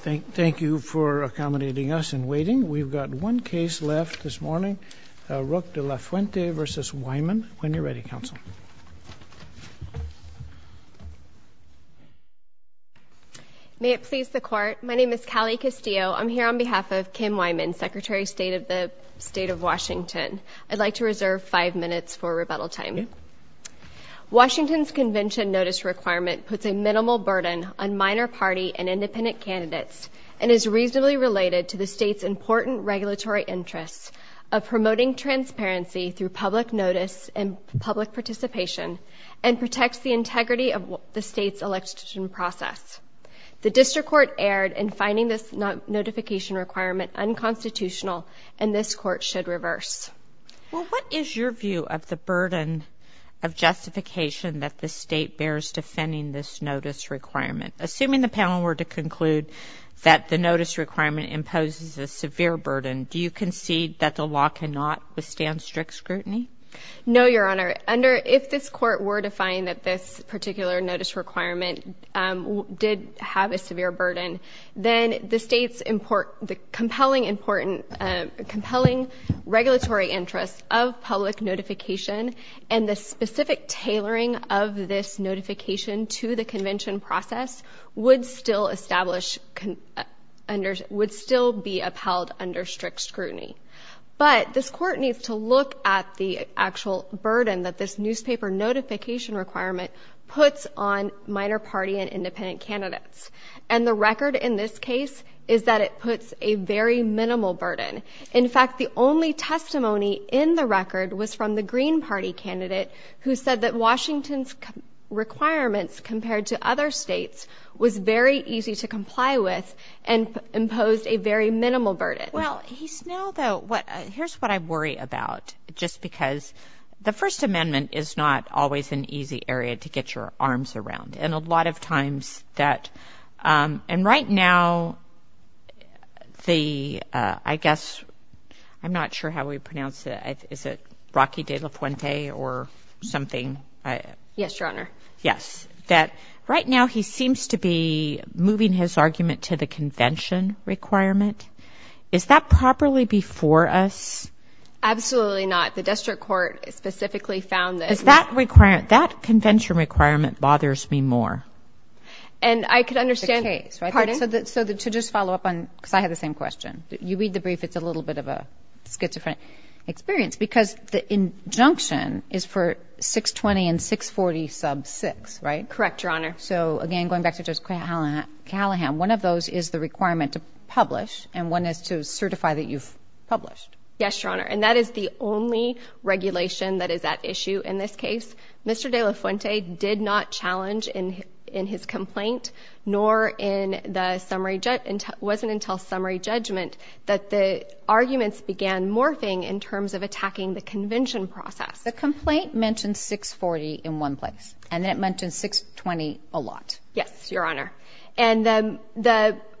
Thank you for accommodating us in waiting. We've got one case left this morning. Roque De La Fuente v. Wyman. When you're ready, counsel. May it please the court, my name is Callie Castillo. I'm here on behalf of Kim Wyman, Secretary of State of the State of Washington. I'd like to reserve five minutes for rebuttal time. Washington's convention notice requirement puts a minimal burden on minor party and independent candidates and is reasonably related to the state's important regulatory interests of promoting transparency through public notice and public participation and protects the integrity of the state's election process. The district court erred in finding this notification requirement unconstitutional and this court should reverse. Well what is your view of the burden of justification that the state bears defending this notice requirement? Assuming the panel were to conclude that the notice requirement imposes a severe burden, do you concede that the law cannot withstand strict scrutiny? No, Your Honor. Under, if this court were to find that this particular notice requirement did have a severe burden, then the state's import, the compelling important, compelling regulatory interests of public notification and the specific tailoring of this notification to the convention process would still establish, would still be upheld under strict scrutiny. But this court needs to look at the actual burden that this newspaper notification requirement puts on minor party and independent candidates. And the record in this case is that it puts a very minimal burden. In fact, the only testimony in the record was from the state's representative, who said that Washington's requirements compared to other states was very easy to comply with and imposed a very minimal burden. Well, he's now, though, what, here's what I worry about, just because the First Amendment is not always an easy area to get your arms around. And a lot of times that, and right now, the, I guess, I'm not sure how we pronounce it, is it Rocky de Or something? Yes, Your Honor. Yes. That right now, he seems to be moving his argument to the convention requirement. Is that properly before us? Absolutely not. The district court specifically found that. Is that requirement, that convention requirement bothers me more. And I could understand the case, right? So, to just follow up on, because I had the same question. You read the brief, it's a little bit of a schizophrenic experience, because the injunction is for 620 and 640 sub 6, right? Correct, Your Honor. So, again, going back to just Callahan, one of those is the requirement to publish and one is to certify that you've published. Yes, Your Honor. And that is the only regulation that is at issue in this case. Mr. De La Fuente did not challenge in his complaint, nor in the summary, wasn't until summary judgment, that the arguments began morphing in terms of attacking the convention process. The complaint mentioned 640 in one place, and then it mentioned 620 a lot. Yes, Your Honor. And then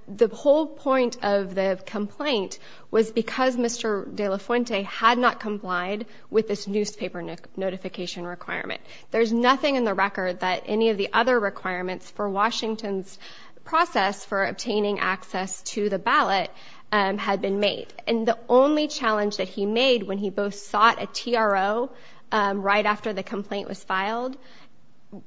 the whole point of the complaint was because Mr. De La Fuente had not complied with this newspaper notification requirement. There's nothing in the record that any of the other requirements for Washington's process for obtaining access to the ballot had been made. And the only challenge that he made when he both sought a TRO right after the complaint was filed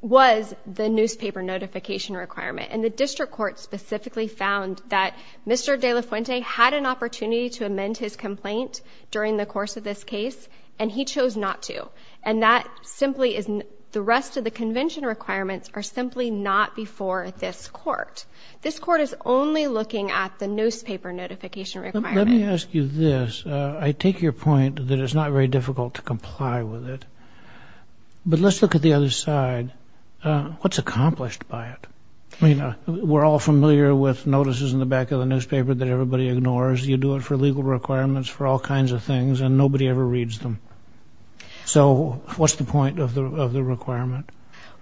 was the newspaper notification requirement. And the district court specifically found that Mr. De La Fuente had an opportunity to amend his complaint during the course of this case, and he chose not to. And that simply isn't, the rest of the convention requirements are simply not before this court. This court is only looking at the newspaper notification requirement. Let me ask you this. I take your point that it's not very difficult to comply with it, but let's look at the other side. What's accomplished by it? I mean, we're all familiar with notices in the back of the newspaper that everybody ignores. You do it for legal requirements for all kinds of things, and nobody ever reads them. So, what's the point of the requirement?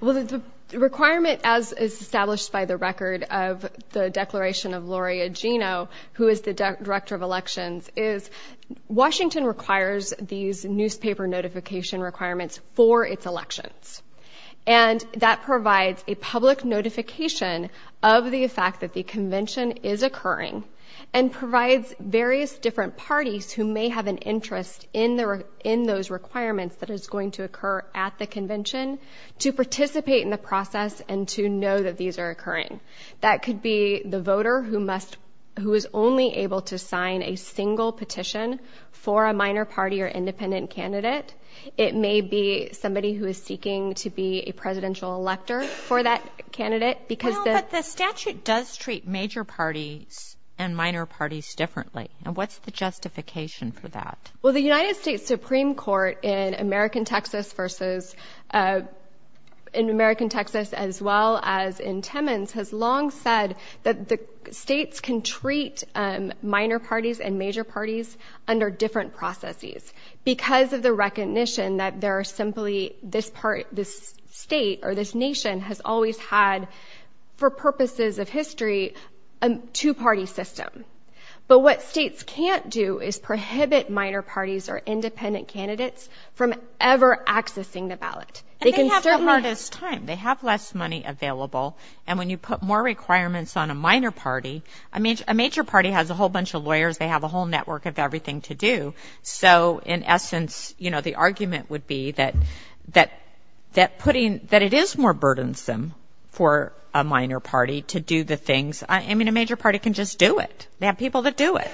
Well, the requirement, as established by the record of the Declaration of Laurie Agino, who is the Director of Elections, is Washington requires these newspaper notification requirements for its elections. And that provides a public notification of the fact that the convention is occurring, and provides various different parties who may have an interest in the, in those requirements that is going to occur at the convention, to participate in the process and to know that these are occurring. That could be the voter who must, who is only able to sign a single petition for a minor party or independent candidate. It may be somebody who is seeking to be a presidential elector for that candidate, because the statute does treat major parties and minor parties differently, and what's the justification for that? Well, the United States Supreme Court in American Texas versus, in American Texas as well as in Timmins, has long said that the states can treat minor parties and major parties under different processes, because of the recognition that there nation has always had, for purposes of history, a two-party system. But what states can't do is prohibit minor parties or independent candidates from ever accessing the ballot. They can certainly... And they have the hardest time. They have less money available, and when you put more requirements on a minor party, I mean, a major party has a whole bunch of lawyers, they have a whole network of everything to do. So, in essence, you know, the argument would be that, that, that putting, that it is more burdensome for a minor party to do the things... I mean, a major party can just do it. They have people that do it.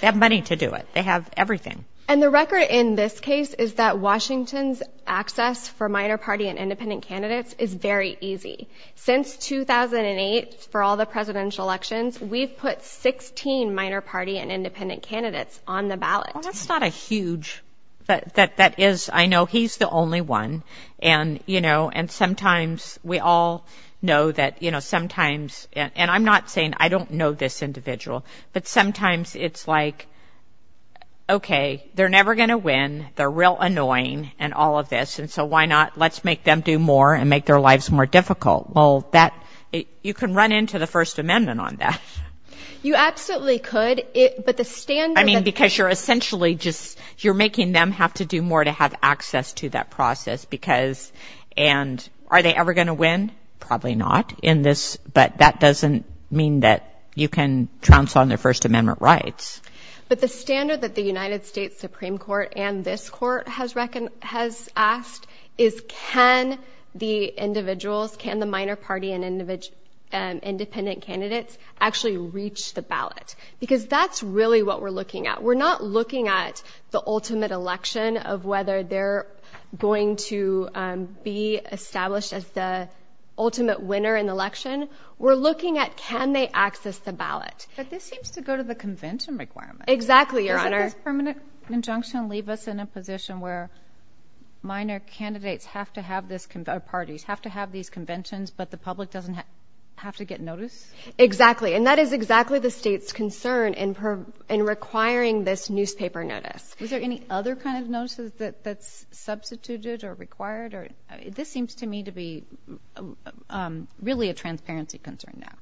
They have money to do it. They have everything. And the record in this case is that Washington's access for minor party and independent candidates is very easy. Since 2008, for all the presidential elections, we've put 16 minor party and independent candidates on the ballot. Well, that's not a huge... That, that, that is... I know he's the only one, and, you know, and sometimes we all know that, you know, sometimes... And I'm not saying I don't know this individual, but sometimes it's like, okay, they're never going to win. They're real annoying and all of this, and so why not let's make them do more and make their lives more difficult? Well, that... You can run into the First Amendment on that. You absolutely could, but the standard... I mean, because you're essentially just... You're making them have to do more to have access to that process because... And are they ever going to win? Probably not in this, but that doesn't mean that you can trounce on their First Amendment rights. But the standard that the United States Supreme Court and this court has reckoned... has asked is, can the individuals, can the minor party and individual... independent candidates actually reach the ballot? Because that's really what we're looking at. We're not looking at the ultimate election of whether they're going to be established as the ultimate winner in the election. We're looking at, can they access the ballot? But this seems to go to the convention requirement. Exactly, Your Honor. Does this permanent injunction leave us in a position where minor candidates have to have this... parties have to have these conventions, but the public doesn't have to get notice? Exactly, and that is exactly the state's concern in requiring this newspaper notice. Is there any other kind of notices that's substituted or required? This seems to me to be really a transparency concern now.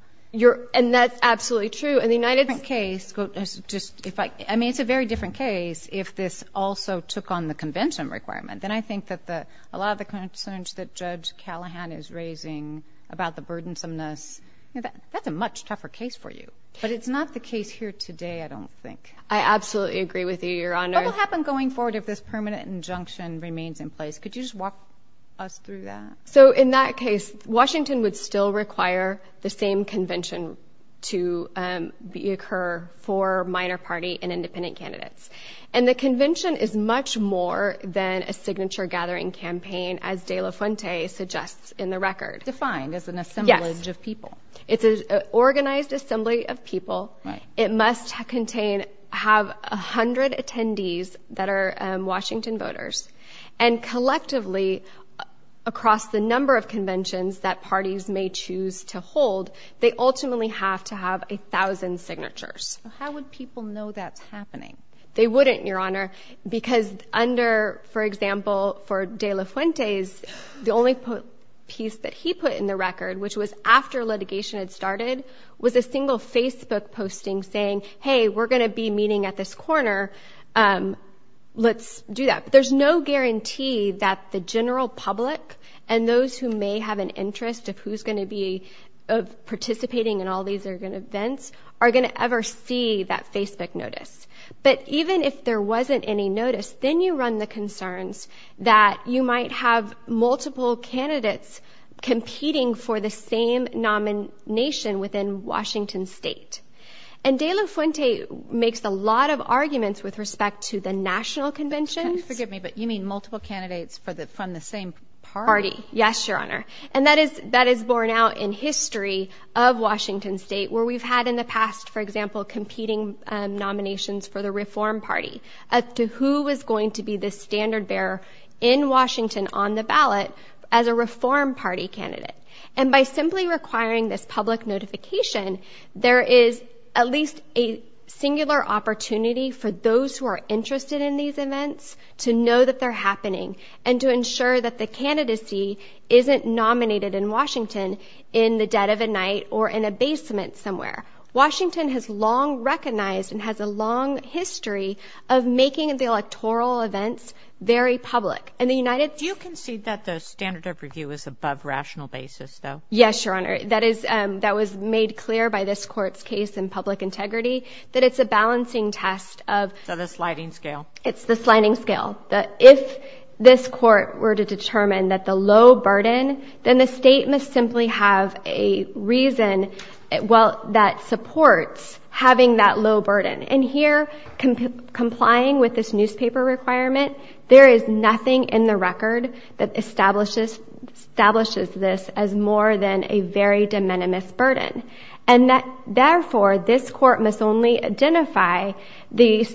And that's absolutely true. In the United States... It's a very different case if this also took on the convention requirement. Then I think that a lot of the concerns that Judge Callahan is raising about the burdensomeness, that's a much tougher case for you. But it's not the case here today, I don't think. I absolutely agree with you, Your Honor. What will happen going forward if this permanent injunction remains in place? Could you just walk us through that? So in that case, Washington would still require the same convention to occur for minor party and independent candidates. And the convention is much more than a signature-gathering campaign, as De La Fuente suggests in the record. Defined as an assemblage of people. It's an organized assembly of people. It must contain, have a hundred attendees that are Washington voters. And collectively, across the number of conventions that parties may choose to hold, they ultimately have to have a thousand signatures. How would people know that's happening? They wouldn't, Your Honor, because under, for example, for De La Fuentes, the only piece that he put in the record, which was after litigation had started, was a single Facebook posting saying, hey, we're going to be meeting at this corner. Let's do that. There's no guarantee that the general public and those who may have an interest of who's going to be participating in all these events are going to ever see that Facebook notice. But even if there wasn't any notice, then you run the concerns that you might have multiple candidates competing for the same nomination within Washington State. And De La Fuente makes a lot of arguments with respect to the national conventions. Forgive me, but you mean multiple candidates from the same party? Yes, Your Honor. And that is, that is borne out in history of Washington State, where we've had in the past, for example, competing nominations for the Reform Party as to who was going to be the standard-bearer in Washington on the ballot as a Reform Party candidate. And by simply requiring this public notification, there is at least a singular opportunity for those who are interested in these events to know that they're happening and to ensure that the candidacy isn't nominated in Washington in the dead of a night or in a basement somewhere. Washington has long recognized and has a long history of making the electoral events very public. And the United... Do you concede that the standard of review is above rational basis, though? Yes, Your Honor. That is, that was made clear by this court's case in public integrity, that it's a balancing test of... So the sliding scale? It's the sliding scale. That if this court were to make a decision that supports having that low burden... And here, complying with this newspaper requirement, there is nothing in the record that establishes this as more than a very de minimis burden. And that, therefore, this court must only identify the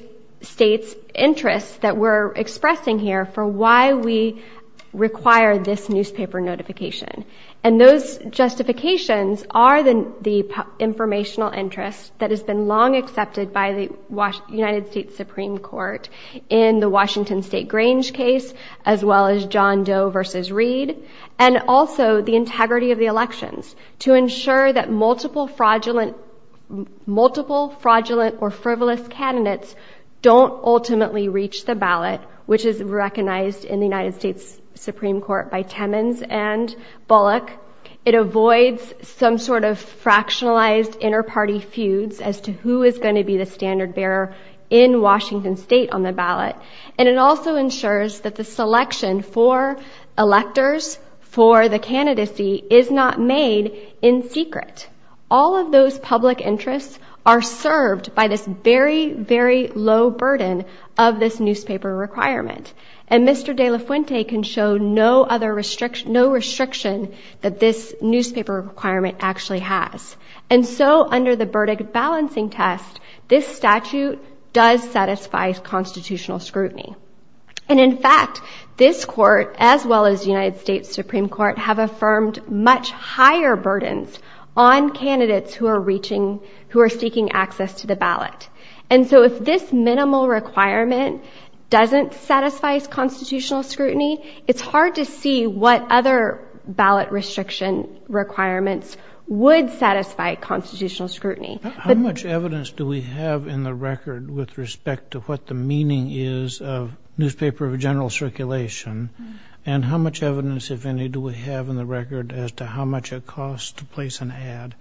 state's interests that we're expressing here for why we require this newspaper notification. And those justifications are the informational interest that has been long accepted by the United States Supreme Court in the Washington State Grange case, as well as John Doe versus Reed, and also the integrity of the elections to ensure that multiple fraudulent or frivolous candidates don't ultimately reach the ballot, which is recognized in the United States Supreme Court by Timmons and Bullock. It avoids some sort of fractionalized inter-party feuds as to who is going to be the standard bearer in Washington State on the ballot. And it also ensures that the selection for electors for the candidacy is not made in secret. All of those public interests are served by this very, very low burden of this newspaper requirement. And Mr. Bullock has no restriction that this newspaper requirement actually has. And so, under the verdict balancing test, this statute does satisfy constitutional scrutiny. And in fact, this court, as well as the United States Supreme Court, have affirmed much higher burdens on candidates who are reaching, who are seeking access to the ballot. And so, if this minimal requirement doesn't satisfy constitutional scrutiny, it's hard to see what other ballot restriction requirements would satisfy constitutional scrutiny. How much evidence do we have in the record with respect to what the meaning is of newspaper of general circulation? And how much evidence, if any, do we have in the record as to how much it costs to place an ad?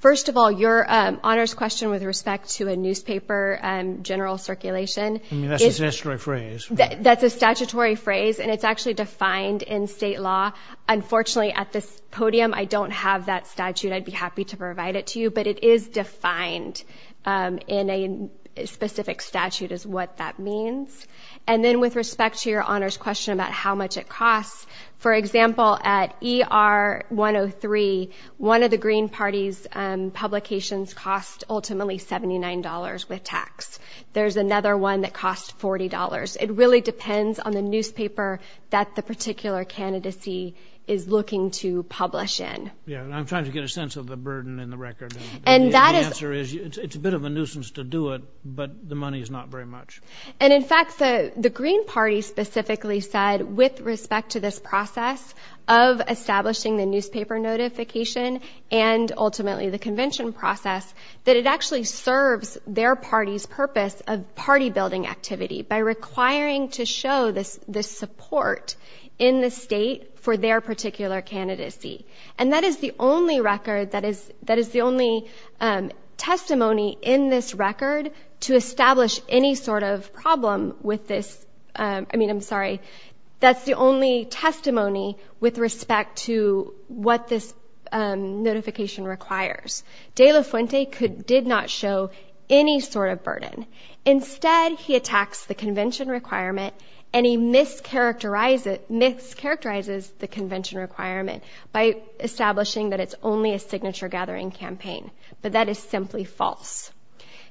First of all, your honors question with respect to a newspaper and general circulation. I mean, that's a statutory phrase. That's a statutory phrase, and it's actually defined in state law. Unfortunately, at this podium, I don't have that statute. I'd be happy to provide it to you, but it is defined in a specific statute as what that means. And then, with respect to your honors question about how much it costs, for example, at ER 103, one of the Green Party's publications cost ultimately $79 with tax. There's another one that costs $40. It really depends on the newspaper that the particular candidacy is looking to publish in. Yeah, and I'm trying to get a sense of the burden in the record. And the answer is, it's a bit of a nuisance to do it, but the money is not very much. And in fact, the Green Party specifically said, with respect to this process of establishing the newspaper notification, and ultimately the convention process, that it actually serves their party's purpose of party-building activity by requiring to show this support in the state for their particular candidacy. And that is the only record that is, that is the only testimony in this record to establish any sort of problem with this. I mean, I'm sorry, that's the only testimony with respect to what this notification requires. De La Fuente could, did not show any sort of burden. Instead, he attacks the convention requirement, and he mischaracterize it, mischaracterizes the convention requirement by establishing that it's only a signature-gathering campaign. But that is simply false.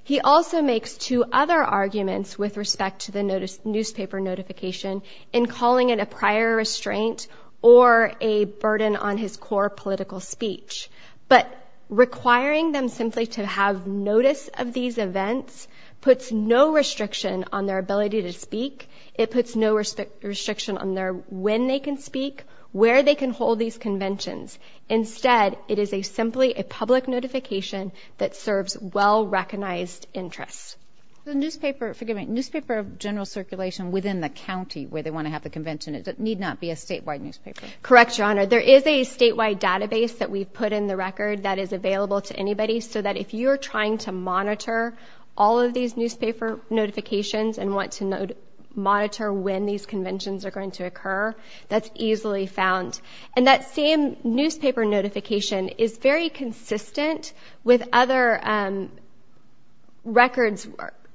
He also makes two other arguments with respect to the notice, newspaper notification, in calling it a prior restraint or a burden on his core political speech. But requiring them simply to have notice of these events puts no restriction on their ability to speak. It puts no restriction on their, when they can speak, where they can hold these conventions. Instead, it is a simply a public notification that serves well-recognized interests. The newspaper, forgive me, newspaper general circulation within the county where they want to have the convention, it need not be a statewide newspaper? Correct, Your Honor. There is a statewide database that we've put in the record that is available to anybody, so that if you're trying to monitor all of these newspaper notifications and want to know, monitor when these conventions are going to occur, that's easily found. And that same newspaper notification is very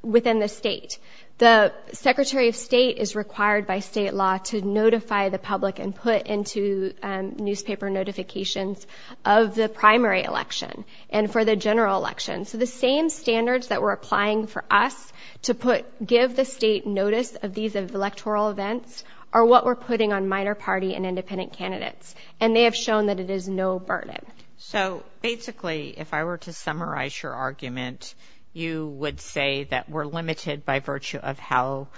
The Secretary of State is required by state law to notify the public and put into newspaper notifications of the primary election and for the general election. So the same standards that we're applying for us to put, give the state notice of these electoral events are what we're putting on minor party and independent candidates. And they have shown that it is no burden. So basically, if I were to summarize your argument, you would say that we're limited by virtue of how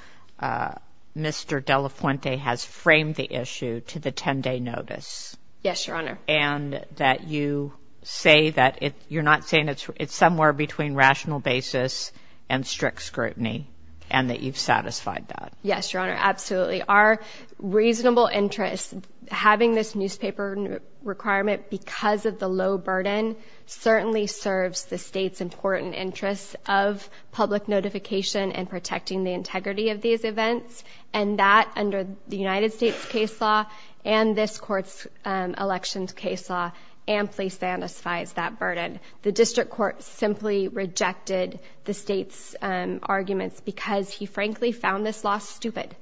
Mr. De La Fuente has framed the issue to the 10-day notice. Yes, Your Honor. And that you say that it, you're not saying it's, it's somewhere between rational basis and strict scrutiny and that you've satisfied that. Yes, Your Honor, absolutely. Our reasonable interest, having this newspaper requirement because of the low burden, certainly serves the state's important interests of public notification and protecting the integrity of these events. And that, under the United States case law and this court's elections case law, amply satisfies that burden. The district court simply rejected the state's arguments because he frankly found this law stupid.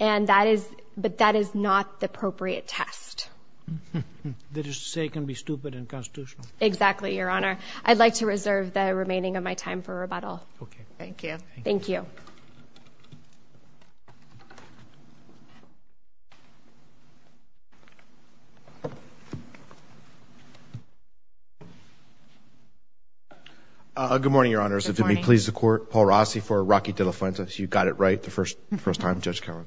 And that is, but that is not the appropriate test. That is to say it can be stupid and constitutional. Exactly, Your Honor. I'd like to reserve the remaining of my time for rebuttal. Okay. Thank you. Thank you. Good morning, Your Honors. If it would please the court, Paul Rossi for Rocky De La Fuentes. You got it right the first, first time, Judge Cameron.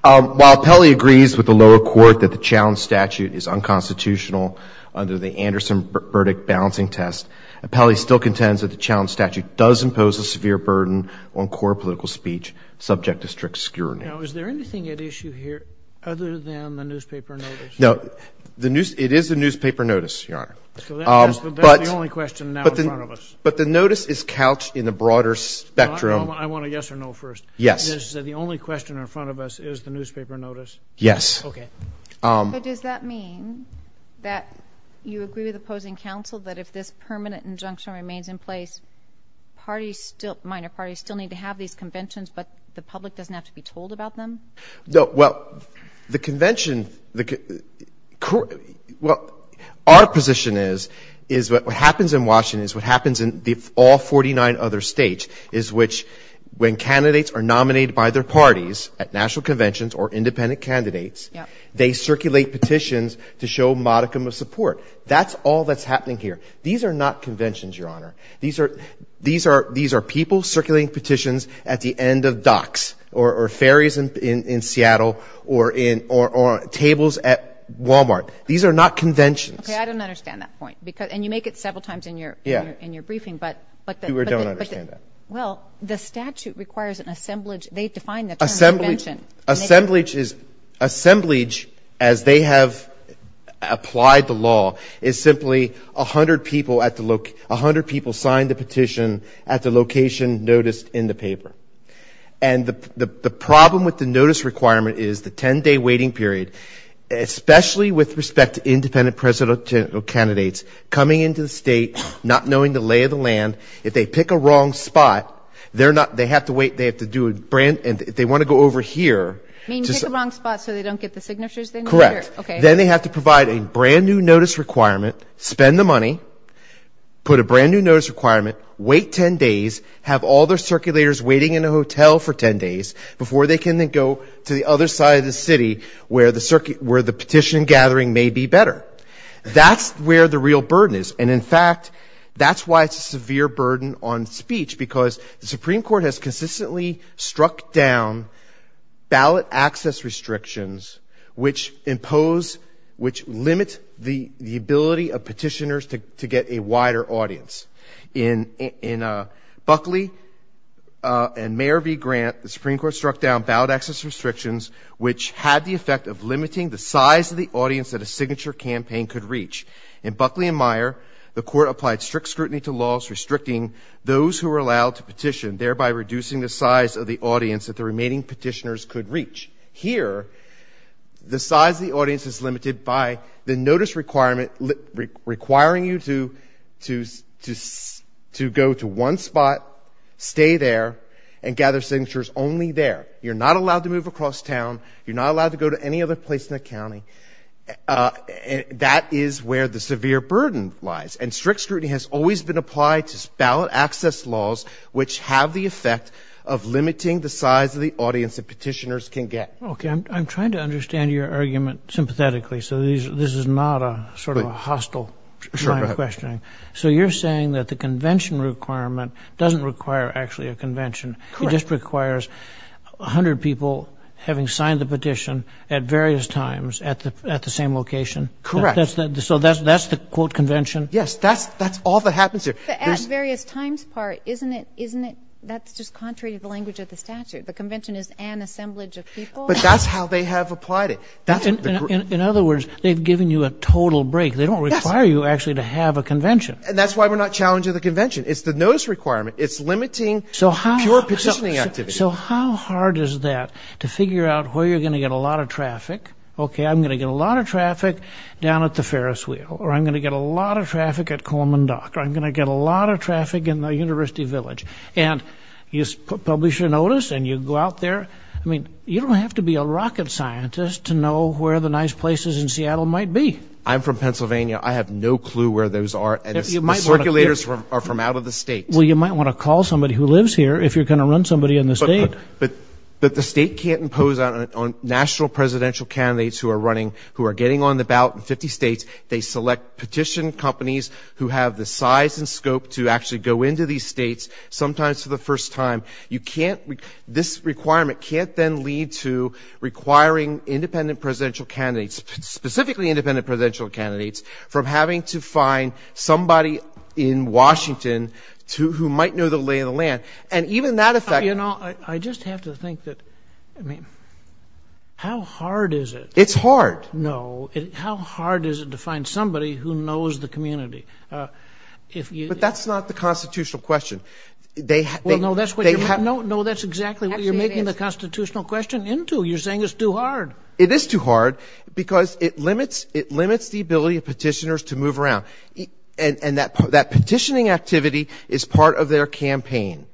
While Appellee agrees with the lower court that the Chowns statute is unconstitutional under the Anderson verdict balancing test, Appellee still contends that the Chowns statute does impose a severe burden on core political speech subject to strict scrutiny. Now, is there anything at issue here other than the newspaper notice? No. The news, it is a newspaper notice, Your Honor. So that's, that's the only question now in front of us. But the, but the notice is couched in the broader spectrum. I want a yes or no first. Yes. So the only question in front of us is the newspaper notice? Yes. Okay. So does that mean that you agree with opposing counsel that if this permanent injunction remains in place, parties still, minor parties still need to have these conventions, but the public doesn't have to be told about them? No. Well, the convention, the, well, our position is, is what happens in Washington is what happens in the all 49 other states is which when candidates are nominated by their parties at national conventions or independent candidates, they circulate petitions to show modicum of support. That's all that's happening here. These are not conventions, Your Honor. These are, these are, these are people circulating petitions at the end of docks or, or ferries in, in, in Seattle or in, or, or tables at Walmart. These are not conventions. Okay. I don't understand that point because, and you make it several times in your, in your briefing, but, but the, but the, well, the statute requires an assemblage, they define the term convention. Assemblage is, assemblage, as they have applied the law, is simply a hundred people at the, a hundred people sign the petition at the location noticed in the paper. And the, the, the problem with the notice requirement is the 10-day waiting period, especially with respect to independent presidential candidates coming into the state, not knowing the lay of the land, if they pick a wrong spot, they're not, they have to wait, they have to do a brand, and they want to go over here. I mean, you pick a wrong spot so they don't get the signatures they need, or? Correct. Okay. Then they have to provide a brand new notice requirement, spend the money, put a brand new notice requirement, wait 10 days, have all their circulators waiting in a hotel for 10 days before they can then go to the other side of the city where the circuit, where the petition gathering may be better. That's where the real burden is. And in fact, that's why it's a severe burden on speech, because the Supreme Court has consistently struck down ballot access restrictions, which impose, which limit the, the ability of petitioners to, to get a wider audience. In, in Buckley and Mayer v. Grant, the Supreme Court struck down ballot access restrictions, which had the effect of limiting the size of the audience that a signature campaign could reach. In Buckley and Mayer, the court applied strict scrutiny to laws restricting those who were allowed to petition, thereby reducing the size of the audience that the remaining petitioners could reach. Here, the size of the audience is limited by the notice requirement requiring you to, to, to go to one spot, stay there, and gather signatures only there. You're not allowed to move across town. You're not allowed to go to any other place in the county. And that is where the severe burden lies. And strict scrutiny has always been applied to ballot access laws, which have the effect of limiting the size of the audience that petitioners can get. Okay. I'm, I'm trying to understand your argument sympathetically. So these, this is not a sort of a hostile line of questioning. So you're saying that the convention requirement doesn't require actually a convention. It just requires 100 people having signed the petition at various times at the, at the same location. Correct. That's the, so that's, that's the quote convention? Yes. That's, that's all that happens here. The at various times part, isn't it, isn't it, that's just contrary to the language of the statute. The convention is an assemblage of people. But that's how they have applied it. That's what the In, in, in other words, they've given you a total break. They don't require you actually to have a convention. And that's why we're not challenging the convention. It's the notice requirement. It's limiting pure petitioning So how hard is that to figure out where you're going to get a lot of traffic? Okay, I'm going to get a lot of traffic down at the Ferris wheel, or I'm going to get a lot of traffic at Coleman Dock, or I'm going to get a lot of traffic in the University Village. And you publish a notice and you go out there. I mean, you don't have to be a rocket scientist to know where the nice places in Seattle might be. I'm from Pennsylvania. I have no clue where those are. And if you might want to circulators are from out of the state. Well, you might want to call somebody who lives here. If you're going to run somebody in the state, but that the state can't impose on national presidential candidates who are running, who are getting on the ballot in 50 states, they select petition companies who have the size and scope to actually go into these states. Sometimes for the first time, you can't, this requirement can't then lead to requiring independent presidential candidates, specifically independent presidential candidates from having to find somebody in Washington to who might know the lay of the land. And even that effect, you know, I just have to think that, I mean, how hard is it? It's hard. No. How hard is it to find somebody who knows the community? If you, but that's not the constitutional question. They know that's what they have. No, no. That's exactly what you're making the constitutional question into. You're saying it's too hard. It is too hard because it limits, it limits the ability of petitioners to move around. And that, that petitioning activity is part of their campaign,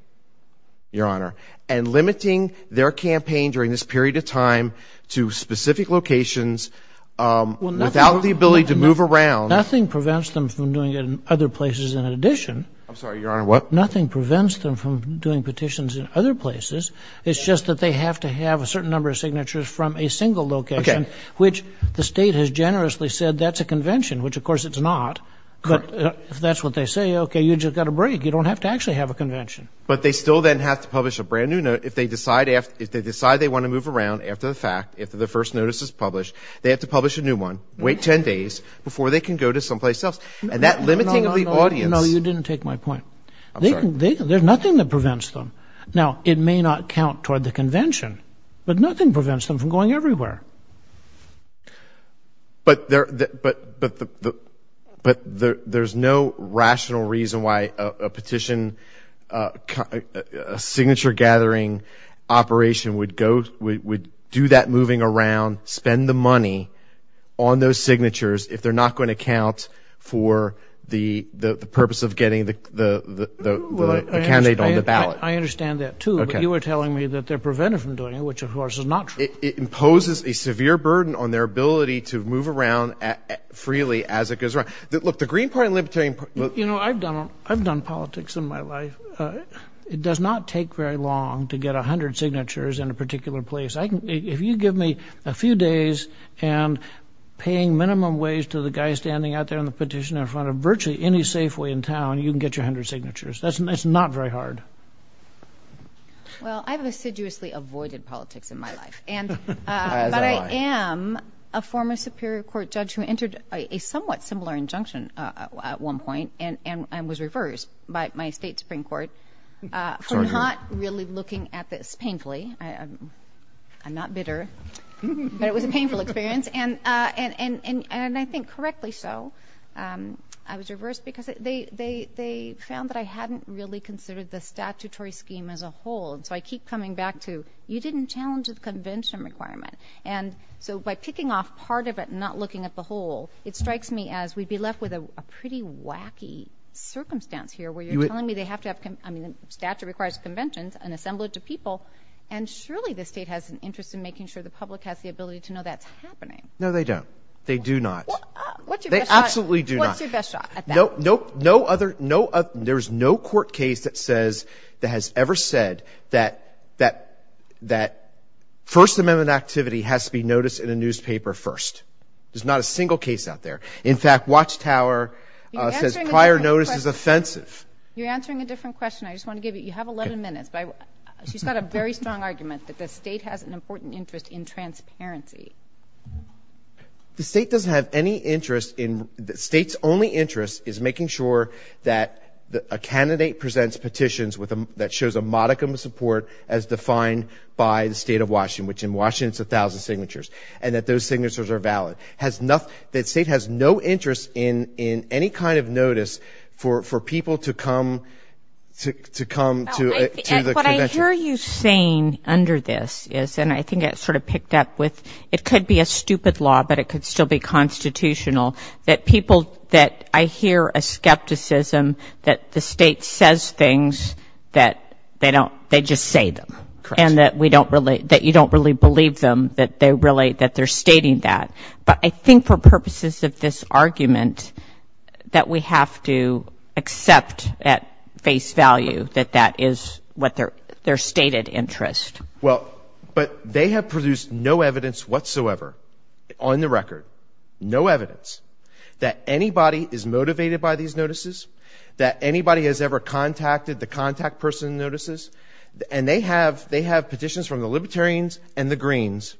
Your Honor, and limiting their campaign during this period of time to specific locations, without the ability to move around. Nothing prevents them from doing it in other places. In addition, I'm sorry, Your Honor, what? Nothing prevents them from doing petitions in other places. It's just that they have to have a certain number of signatures from a single location, which the state has generously said, that's a convention, which of course it's not. But if that's what they say, okay, you just got to break. You don't have to actually have a convention. But they still then have to publish a brand new note. If they decide after, if they decide they want to move around after the fact, after the first notice is published, they have to publish a new one, wait 10 days before they can go to someplace else. And that limiting of the audience. No, you didn't take my point. There's nothing that prevents them. Now it may not count toward the convention, but nothing prevents them from going everywhere. But there, but, but, but there's no rational reason why a petition, a signature gathering operation would go, would do that moving around, spend the money on those signatures if they're not going to count for the, the purpose of getting the, the, the candidate on the ballot. I understand that too, but you were telling me that they're prevented from doing it, It imposes a certain amount of pressure on the petitioner. It's a severe burden on their ability to move around freely as it goes around. Look, the Green Party and Libertarian Party, you know, I've done, I've done politics in my life. It does not take very long to get a hundred signatures in a particular place. I can, if you give me a few days and paying minimum wage to the guy standing out there in the petition in front of virtually any safe way in town, you can get your hundred signatures. That's, that's not very hard. Yeah. Well, I've assiduously avoided politics in my life and, but I am a former Superior Court judge who entered a somewhat similar injunction at one point and, and I was reversed by my state Supreme Court for not really looking at this painfully. I, I'm not bitter, but it was a painful experience. And, and, and, and, and I think correctly. So I was reversed because they, they, they found that I hadn't really considered the statutory scheme as a whole. And so I keep coming back to, you didn't challenge the convention requirement. And so by picking off part of it and not looking at the whole, it strikes me as we'd be left with a pretty wacky circumstance here where you're telling me they have to have, I mean the statute requires conventions and assemble it to people. And surely the state has an interest in making sure the public has the ability to know that's happening. No, they don't. They do not. They absolutely do not. Nope. Nope. No other, no other. There is no court case that says that has ever said that, that, that first amendment activity has to be noticed in a newspaper first. There's not a single case out there. In fact, Watchtower says prior notice is offensive. You're answering a different question. I just want to give you, you have 11 minutes, but she's got a very strong argument that the state has an important interest in transparency. The state doesn't have any interest in the state's only interest is making sure that a candidate presents petitions with them that shows a modicum of support as defined by the state of Washington, which in Washington, it's a thousand signatures and that those signatures are valid. Has nothing that state has no interest in, in any kind of notice for, for people to come, to, to come to the convention. What I hear you saying under this is, and I think it sort of picked up with, it could be a stupid law, but it could still be constitutional that people that I hear a skepticism that the state says things that they don't, they just say them and that we don't relate that you don't really believe them that they relate that they're stating that. But I think for purposes of this argument that we have to accept at face value that that is what their, their stated interest. Well, but they have produced no evidence whatsoever on the record, no evidence that anybody is motivated by these notices that anybody has ever contacted the contact person notices and they have, they have petitions from the libertarians and the greens,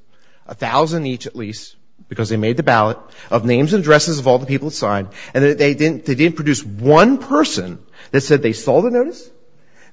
a thousand each at least because they made the ballot of names and dresses of all the people signed and that they didn't, they didn't produce one person that said they saw the notice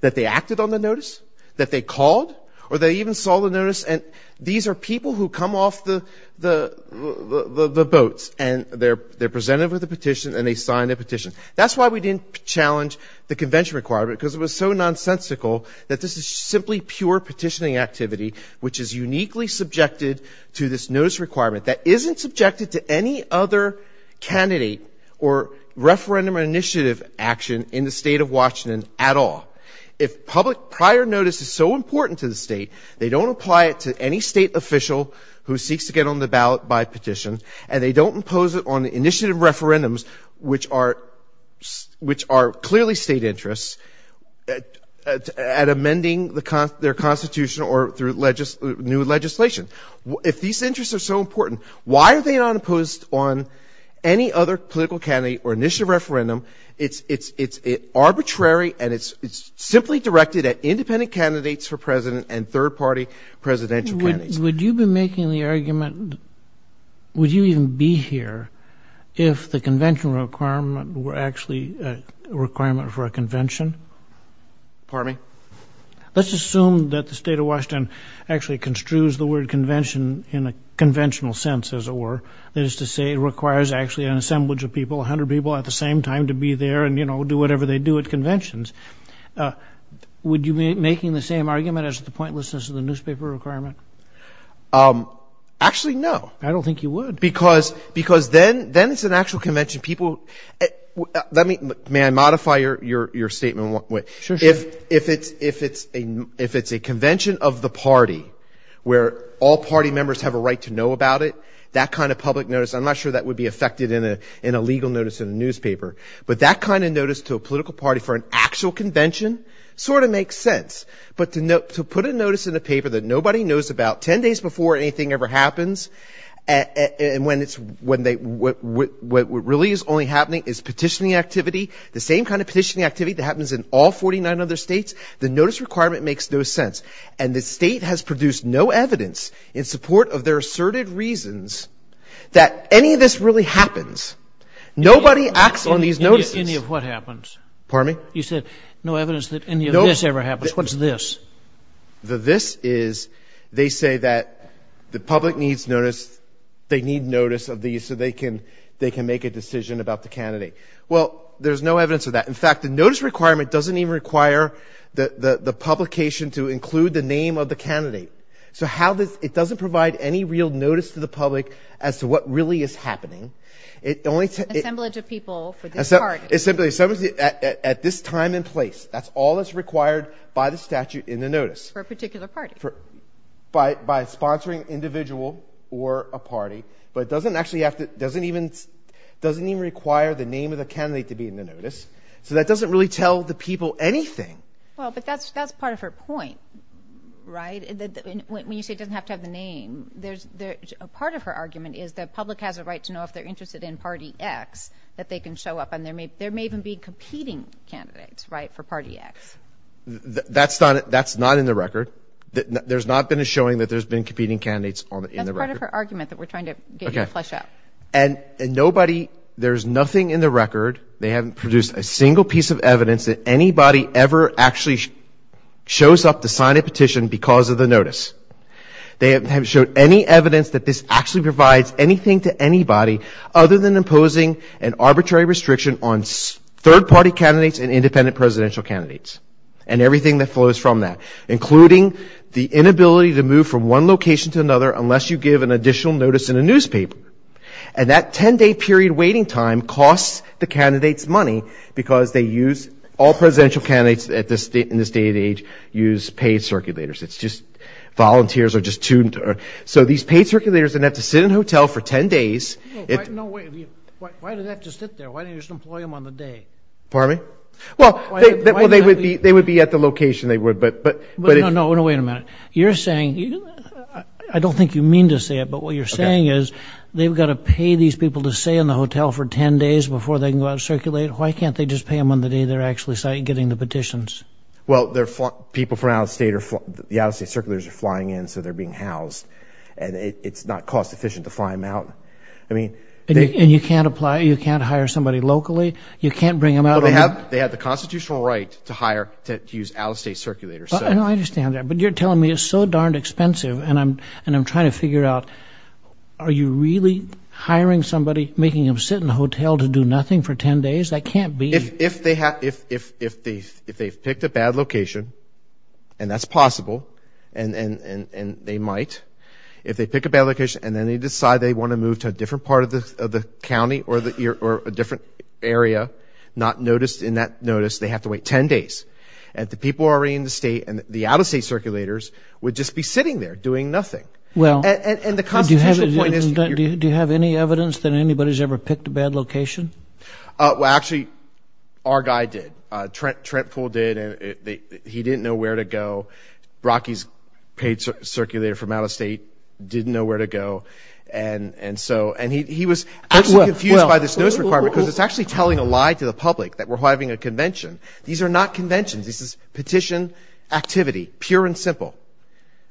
that they acted on the notice that they called or they even saw the notice and these are people who come off the, the, the, the, the boats and they're, they're presented with a petition and they signed a petition. That's why we didn't challenge the convention requirement because it was so nonsensical that this is simply pure petitioning activity, which is uniquely subjected to this notice requirement that isn't subjected to any other candidate or referendum initiative action in the state of Washington at all. If public prior notice is so important to the state, they don't apply it to any state official who seeks to get on the ballot by petition and they don't impose it on the initiative referendums, which are, which are clearly state interests at amending the con their constitution or through new legislation. If these interests are so important, why are they not imposed on any other political candidate or initiative and it's, it's simply directed at independent candidates for president and third party presidential candidates. Would you be making the argument, would you even be here if the convention requirement were actually a requirement for a convention? Pardon me? Let's assume that the state of Washington actually construes the word convention in a conventional sense, as it were. That is to say it requires actually an assemblage of people, a hundred people at the same time to be there and you know, people do whatever they do at conventions. Would you be making the same argument as the pointlessness of the newspaper requirement? Um, actually no. I don't think you would. Because, because then, then it's an actual convention. People, let me, may I modify your, your, your statement? If, if it's, if it's a, if it's a convention of the party where all party members have a right to know about it, that kind of public notice, I'm not sure that would be affected in a, in a legal notice in a newspaper, but that kind of notice to a political party for an actual convention sort of makes sense. But to note, to put a notice in a paper that nobody knows about 10 days before anything ever happens. And when it's when they, what, what, what really is only happening is petitioning activity. The same kind of petitioning activity that happens in all 49 other states, the notice requirement makes no sense. And the state has produced no evidence in support of their asserted reasons that any of this really happens. Nobody acts on these notes. Any of what happens? Pardon me? You said no evidence that any of this ever happens. What's this? The, this is, they say that the public needs notice. They need notice of these so they can, they can make a decision about the candidate. Well, there's no evidence of that. In fact, the notice requirement doesn't even require the, the, the publication to include the name of the candidate. So how does it doesn't provide any real notice to the public as to what really is happening. It only assemblage of people for this part is simply, somebody at this time and place, that's all that's required by the statute in the notice for a particular party by, by sponsoring individual or a party, but it doesn't actually have to, doesn't even, doesn't even require the name of the candidate to be in the notice. So that doesn't really tell the people anything. Well, but that's, that's part of her point, right? And when you say it doesn't have to have the name, there's a part of her argument is that public has a right to know if they're interested in party X, that they can show up and there may, there may even be competing candidates, right? For party X. That's not, that's not in the record that there's not been a showing that there's been competing candidates on the, in the record of her argument that we're trying to flush out and nobody, there's nothing in the record. They haven't produced a single piece of evidence that anybody ever actually shows up to sign a petition because of the notice. They haven't showed any evidence that this actually provides anything to other than imposing an arbitrary restriction on third party candidates and independent presidential candidates and everything that flows from that, including the inability to move from one location to another, unless you give an additional notice in a newspaper and that 10 day period waiting time costs the candidates money because they use all presidential candidates at this state in this day and age use paid circulators. It's just volunteers are just tuned. So these paid circulators didn't have to sit in hotel for 10 days. No way. Why did that just sit there? Why didn't you just employ them on the day? Pardon me? Well, they would be, they would be at the location. They would, but, but, but no, no, no, wait a minute. You're saying, I don't think you mean to say it, but what you're saying is they've got to pay these people to stay in the hotel for 10 days before they can go out and circulate. Why can't they just pay them on the day they're actually getting the petitions? Well, they're people from out of state or the out of state circulators are flying in. So they're being housed and it's not cost efficient to fly them out. I mean, and you can't apply, you can't hire somebody locally. You can't bring them out. They have the constitutional right to hire, to use out of state circulators. So I understand that, but you're telling me it's so darned expensive and I'm, and I'm trying to figure out, are you really hiring somebody making them sit in a hotel to do nothing for 10 days? I can't be, if, if they have, if, if, if, if they, if they've picked a bad location and that's possible and, and, and, and they might, if they pick a bad location and then they decide, they want to move to a different part of the county or the, or a different area, not noticed in that notice, they have to wait 10 days and the people already in the state and the out of state circulators would just be sitting there doing nothing. Well, and the constitutional point is, do you have any evidence that anybody's ever picked a bad location? Well, actually our guy did. Trent, Trent Poole did. And he didn't know where to go. Rocky's paid circulator from out of state, didn't know where to go. And, and so, and he, he was actually confused by this notice requirement, because it's actually telling a lie to the public that we're having a convention. These are not conventions. This is petition activity, pure and simple.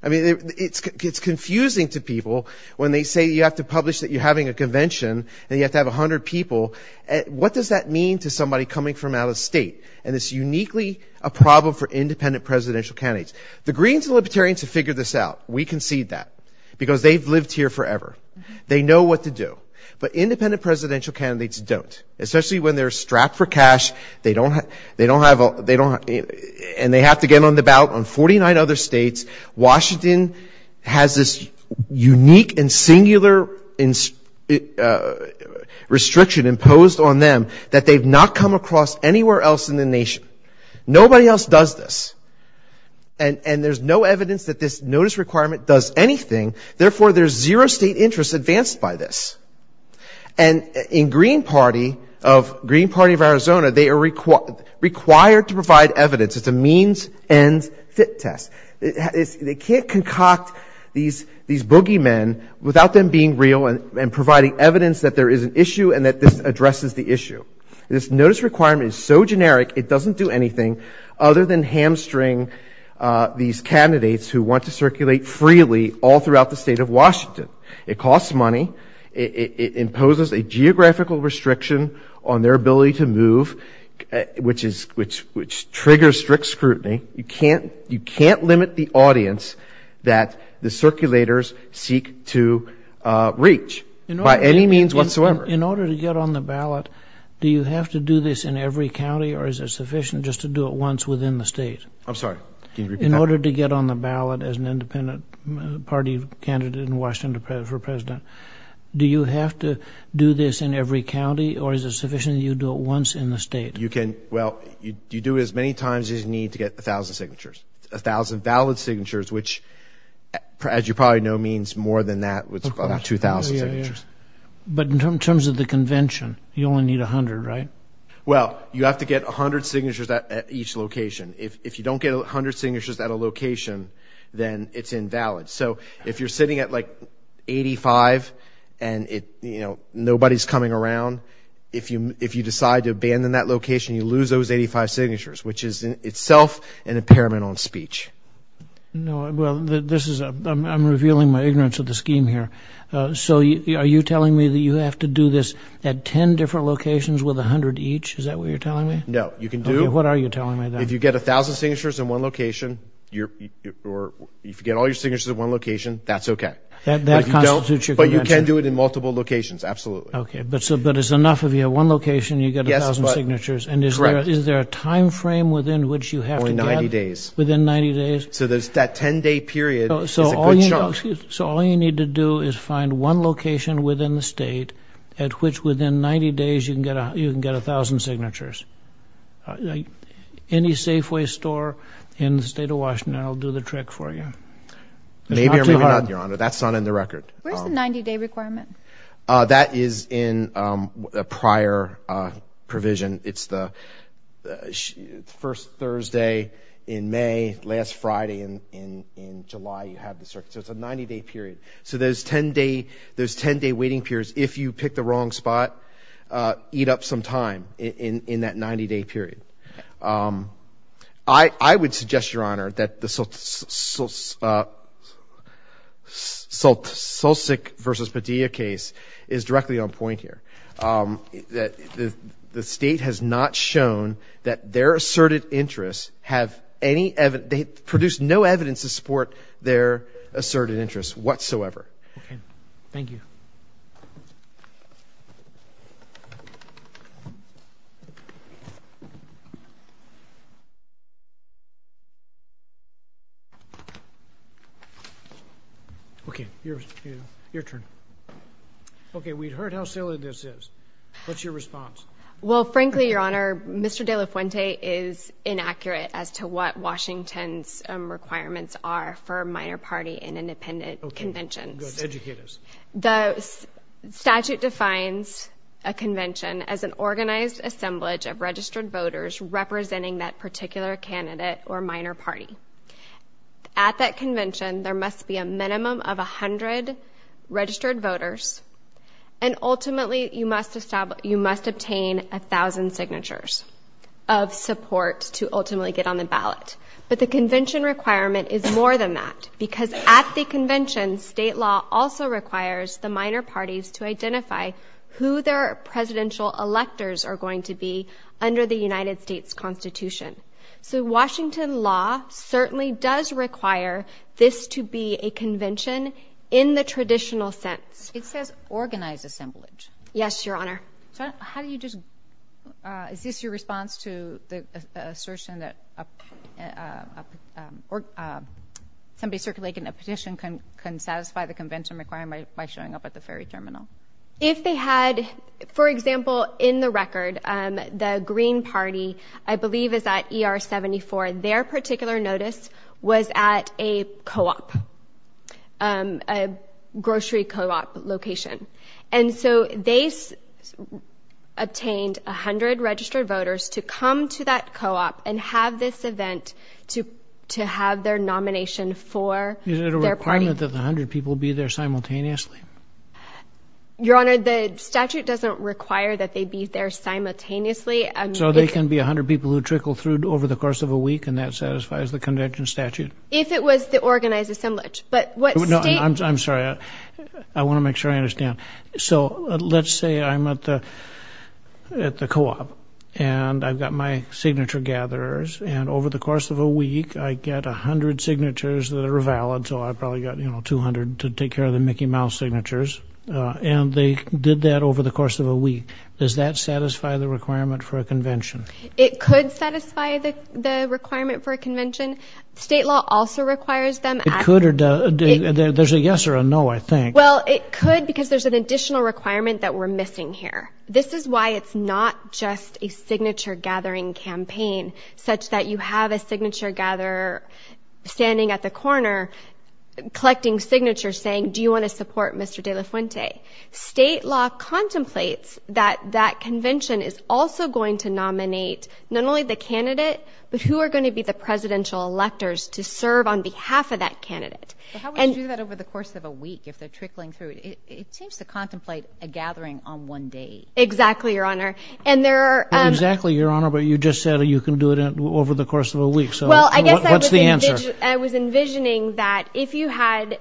I mean, it's confusing to people when they say you have to publish that you're having a convention and you have to have a hundred people. What does that mean to somebody coming from out of state? And it's uniquely a problem for independent presidential candidates. The Greens and Libertarians have figured this out. We concede that because they've lived here forever. They know what to do, but independent presidential candidates don't, especially when they're strapped for cash. They don't have, they don't have a, they don't, and they have to get on the ballot on 49 other states. Washington has this unique and singular restriction imposed on them that they've not come across anywhere else in the nation. Nobody else does this. And, and there's no evidence that this notice requirement does anything. Therefore, there's zero state interest advanced by this. And in Green Party of, Green Party of Arizona, they are required, required to provide evidence. It's a means end fit test. It's, they can't concoct these, these boogeymen without them being real and providing evidence that there is an issue and that this addresses the issue. This notice requirement is so generic, it doesn't do anything other than hamstring these candidates who want to circulate freely all throughout the state of Washington. It costs money. It imposes a geographical restriction on their ability to move, which is, which, which triggers strict scrutiny. You can't, you can't limit the audience that the circulators seek to reach by any means whatsoever. In order to get on the ballot, do you have to do this in every county or is it sufficient just to do it once within the state? I'm sorry, in order to get on the ballot as an independent party candidate in Washington for president, do you have to do this in every county or is it sufficient that you do it once in the state? You can, well, you do as many times as you need to get a thousand signatures, a thousand valid signatures, which as you probably know, means more than that, which is about 2,000 signatures. But in terms of the convention, you only need a hundred, right? Well, you have to get a hundred signatures at each location. If you don't get a hundred signatures at a location, then it's invalid. So if you're sitting at like 85 and it, you know, nobody's coming around, if you, if you decide to abandon that location, you lose those 85 signatures, which is in itself an impairment on speech. No, well, this is, I'm, I'm revealing my ignorance of the scheme here. So are you telling me that you have to do this at 10 different locations with a hundred each? Is that what you're telling me? No, you can do, what are you telling me that if you get a thousand signatures in one location, you're, or if you get all your signatures in one location, that's okay. That constitutes your convention. But you can do it in multiple locations. Absolutely. Okay. But so, but it's enough. If you have one location, you get a thousand signatures. And is there, is there a timeframe within which you have to get? For 90 days. Within 90 days. So there's that 10 day period. So, so all you need to do is find one location within the state at which within 90 days, you can get a, you can get a thousand signatures. Any Safeway store in the state of Washington will do the trick for you. Maybe or maybe not, Your Honor. That's not in the record. Where's the 90 day requirement? That is in a prior provision. It's the first Thursday in May, last Friday in, in, in July, you have the circuit. So it's a 90 day period. So there's 10 day, there's 10 day waiting periods. If you pick the wrong spot, eat up some time in, in that 90 day period. I would suggest, Your Honor, that the Sulcic versus Padilla case is directly on point here. That the state has not shown that their asserted interests have any evidence that they produce no evidence to support their asserted interests whatsoever. Thank you. Okay. Your, your turn. Okay. We'd heard how silly this is. What's your response? Well, frankly, Your Honor, Mr. De La Fuente is inaccurate as to what Washington's requirements are for minor party and independent conventions. The statute defines a convention as an organized assemblage of registered voters representing that particular candidate or minor party. At that convention, there must be a minimum of a hundred registered voters and ultimately you must obtain a thousand signatures of support to ultimately get on the ballot. But the convention requirement is more than that because at the convention, state law also requires the minor parties to identify who their presidential electors are going to be under the United States constitution. So Washington law certainly does require this to be a convention in the traditional sense. It says organized assemblage. Yes, Your Honor. How do you just, is this your response to the assertion that somebody circulating a petition can, can satisfy the convention requirement by showing up at the ferry terminal? If they had, for example, in the record, the Green Party I believe is at ER 74. Their particular notice was at a co-op, a grocery co-op location. And so they, they obtained a hundred registered voters to come to that co-op and have this event to, to have their nomination for their party. Is it a requirement that the hundred people be there simultaneously? Your Honor, the statute doesn't require that they be there simultaneously. So they can be a hundred people who trickle through over the course of a week and that satisfies the convention statute? If it was the organized assemblage, but what state... No, I'm sorry. I want to make sure I understand. So let's say I'm at the, at the co-op and I've got my signature gatherers and over the course of a week, I get a hundred signatures that are valid. So I probably got, you know, 200 to take care of the Mickey Mouse signatures. And they did that over the course of a week. Does that satisfy the requirement for a convention? It could satisfy the requirement for a convention. State law also requires them... It could or does? There's a yes or a no, I think. Well, it could because there's an additional requirement that we're missing here. This is why it's not just a signature gathering campaign such that you have a signature gatherer standing at the corner collecting signatures saying, do you want to support Mr. De La Fuente? State law contemplates that that convention is also going to nominate not only the candidate, but who are going to be the presidential electors to serve on behalf of that candidate. How would you do that over the course of a week if they're trickling through? It seems to contemplate a gathering on one day. Exactly, Your Honor. And there are... Exactly, Your Honor, but you just said you can do it over the course of a week. So what's the answer? I was envisioning that if you had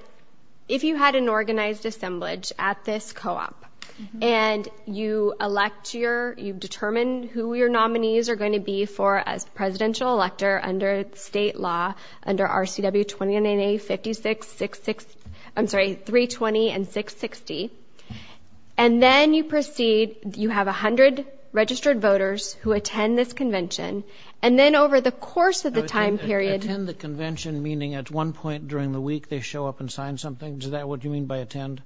an organized assemblage at this co-op and you elect your, you've determined who your nominees are going to be for as presidential elector under state law, under RCW 29A, 56, 6, 6, I'm sorry, 320 and 660. And then you proceed. You have a hundred registered voters who attend this convention. And then over the course of the time period... Attend the convention meaning at one point during the week they show up and sign something. Is that what you mean by attend?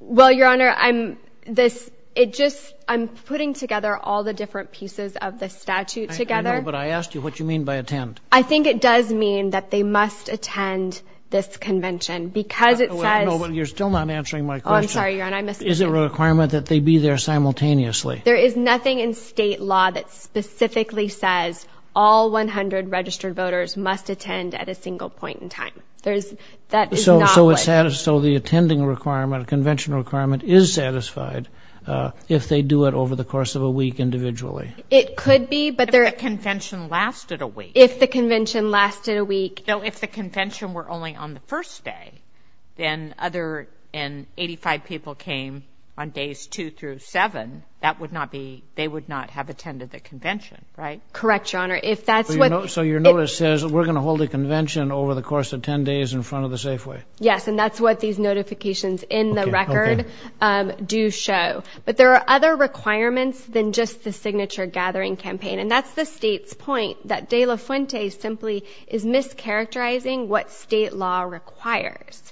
Well, Your Honor, I'm this, it just, I'm putting together all the different pieces of the statute together. But I asked you what you mean by attend. I think it does mean that they must attend this convention because it says... No, but you're still not answering my question. Oh, I'm sorry, Your Honor, I missed the question. Is it a requirement that they be there simultaneously? There is nothing in state law that specifically says all 100 registered voters must attend at a single point in time. There's, that is not what... So, so it's, so the attending requirement, convention requirement is satisfied if they do it over the course of a week individually. It could be, but there... If the convention lasted a week. If the convention lasted a week. So if the convention were only on the first day, then other, and 85 people came on days two through seven, that would not be, they would not have attended the convention, right? Correct, Your Honor. If that's what... So your notice says we're going to hold a convention over the course of 10 days in front of the Safeway. Yes. And that's what these notifications in the record do show. But there are other requirements than just the signature gathering campaign. And that's the state's point that De La Fuente simply is mischaracterizing what state law requires.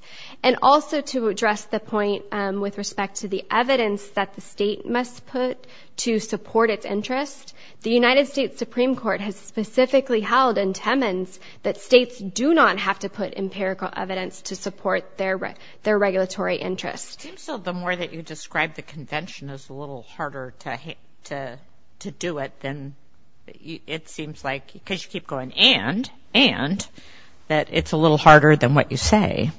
And also to address the point with respect to the evidence that the state must put to support its interest, the United States Supreme Court has specifically held in Timmins that states do not have to put empirical evidence to support their regulatory interest. It seems so the more that you describe the convention as a little harder to, to, to do it than it seems like, because you keep going and, and that it's a little harder than what you say.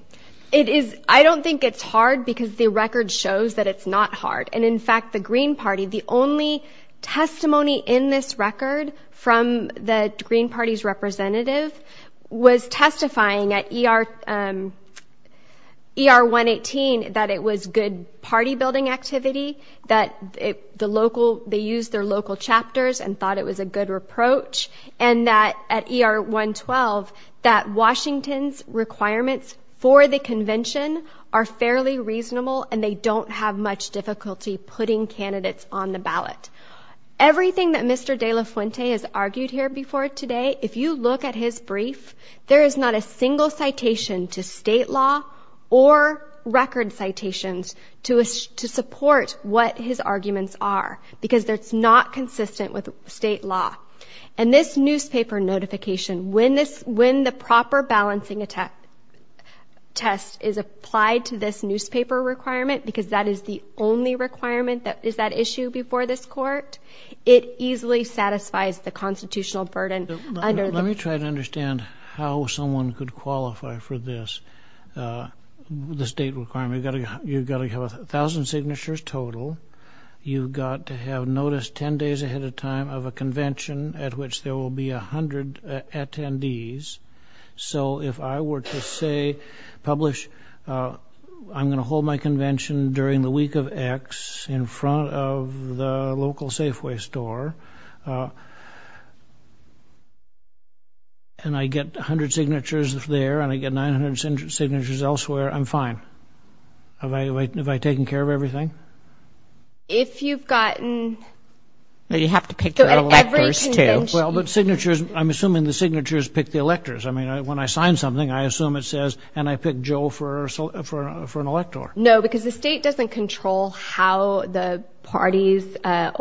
It is. I don't think it's hard because the record shows that it's not hard. And in fact, the Green Party, the only testimony in this record from the Green Party's representative was testifying at ER, um, ER 118, that it was good party building activity that the local, they use their local chapters and thought it was a good reproach. And that at ER 112 that Washington's requirements for the convention are fairly reasonable and they don't have much difficulty putting candidates on the ballot. Everything that Mr. De La Fuente has argued here before today, if you look at his brief, there is not a single citation to state law or record citations to, to support what his arguments are, because that's not consistent with state law. And this newspaper notification, when this, when the proper balancing attack test is applied to this newspaper requirement, because that is the only requirement that is that issue before this court, it easily satisfies the constitutional burden. Let me try to understand how someone could qualify for this, uh, the state requirement. You've got to, you've got to have a thousand signatures total. You've got to have noticed 10 days ahead of time of a convention at which there will be a hundred attendees. So if I were to say publish, uh, I'm going to hold my convention during the week of X in front of the local Safeway store, uh, and I get a hundred signatures there and I get 900 signatures elsewhere. I'm fine. Have I, have I taken care of everything? If you've gotten, you have to pick your electors too. Well, but signatures, I'm assuming the signatures pick the electors. I mean, when I sign something, I assume it says, and I pick Joe for, for, for an elector. No, because the state doesn't control how the parties, uh,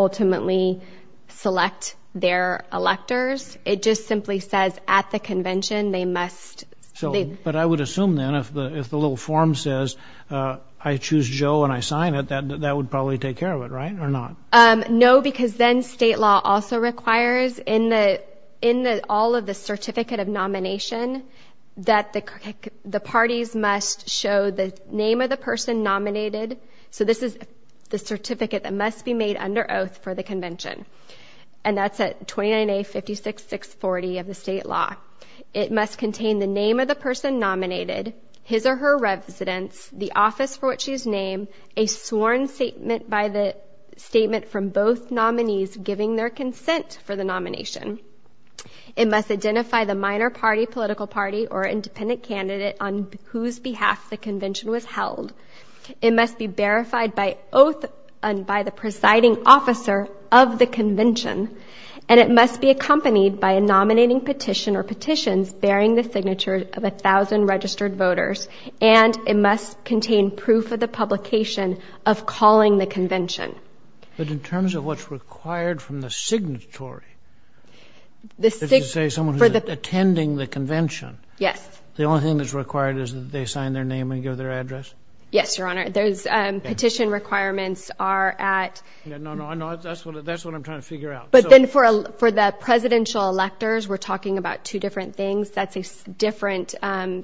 their electors. It just simply says at the convention, they must. So, but I would assume then if the, if the little form says, uh, I choose Joe and I sign it, that that would probably take care of it. Right. Or not. Um, no, because then state law also requires in the, in the, all of the certificate of nomination that the, the parties must show the name of the person nominated. So this is the certificate that must be made under oath for the convention. And that's at 29, a 56, six 40 of the state law. It must contain the name of the person nominated his or her residents, the office for what she's named a sworn statement by the statement from both nominees, giving their consent for the nomination. It must identify the minor party political party or independent candidate on whose behalf the convention was held. It must be verified by oath and by the presiding officer of the convention. And it must be accompanied by a nominating petition or petitions bearing the signature of a thousand registered voters. And it must contain proof of the publication of calling the convention. But in terms of what's required from the signatory, the state say someone who's attending the convention. Yes. The only thing that's required is that they sign their name and give their address. Yes, Your Honor. There's a petition. Requirements are at no, no, no. That's what, that's what I'm trying to figure out. But then for a, for the presidential electors, we're talking about two different things. That's a different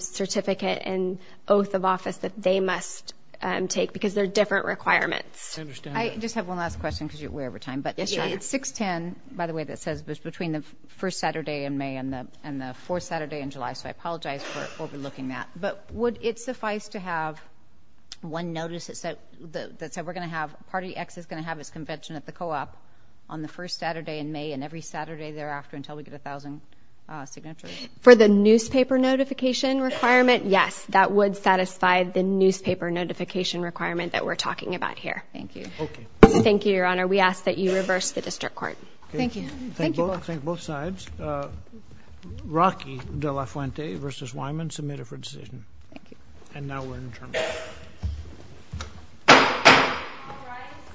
certificate and oath of office that they must take because they're different requirements. I just have one last question because you were over time, but it's six 10, by the way, that says it was between the first Saturday in May and the, and the fourth Saturday in July. So I apologize for overlooking that, but would it suffice to have one notice that said that that's how we're going to have party X is going to have his convention at the co-op on the first Saturday in May and every Saturday thereafter until we get a thousand signatures for the newspaper notification requirement. Yes, that would satisfy the newspaper notification requirement that we're talking about here. Thank you. Thank you, Your Honor. We ask that you reverse the district court. Thank you. Thank you. Thank both sides. Uh, Rocky de la Fuente versus Wyman submitted for decision. And now we're in term.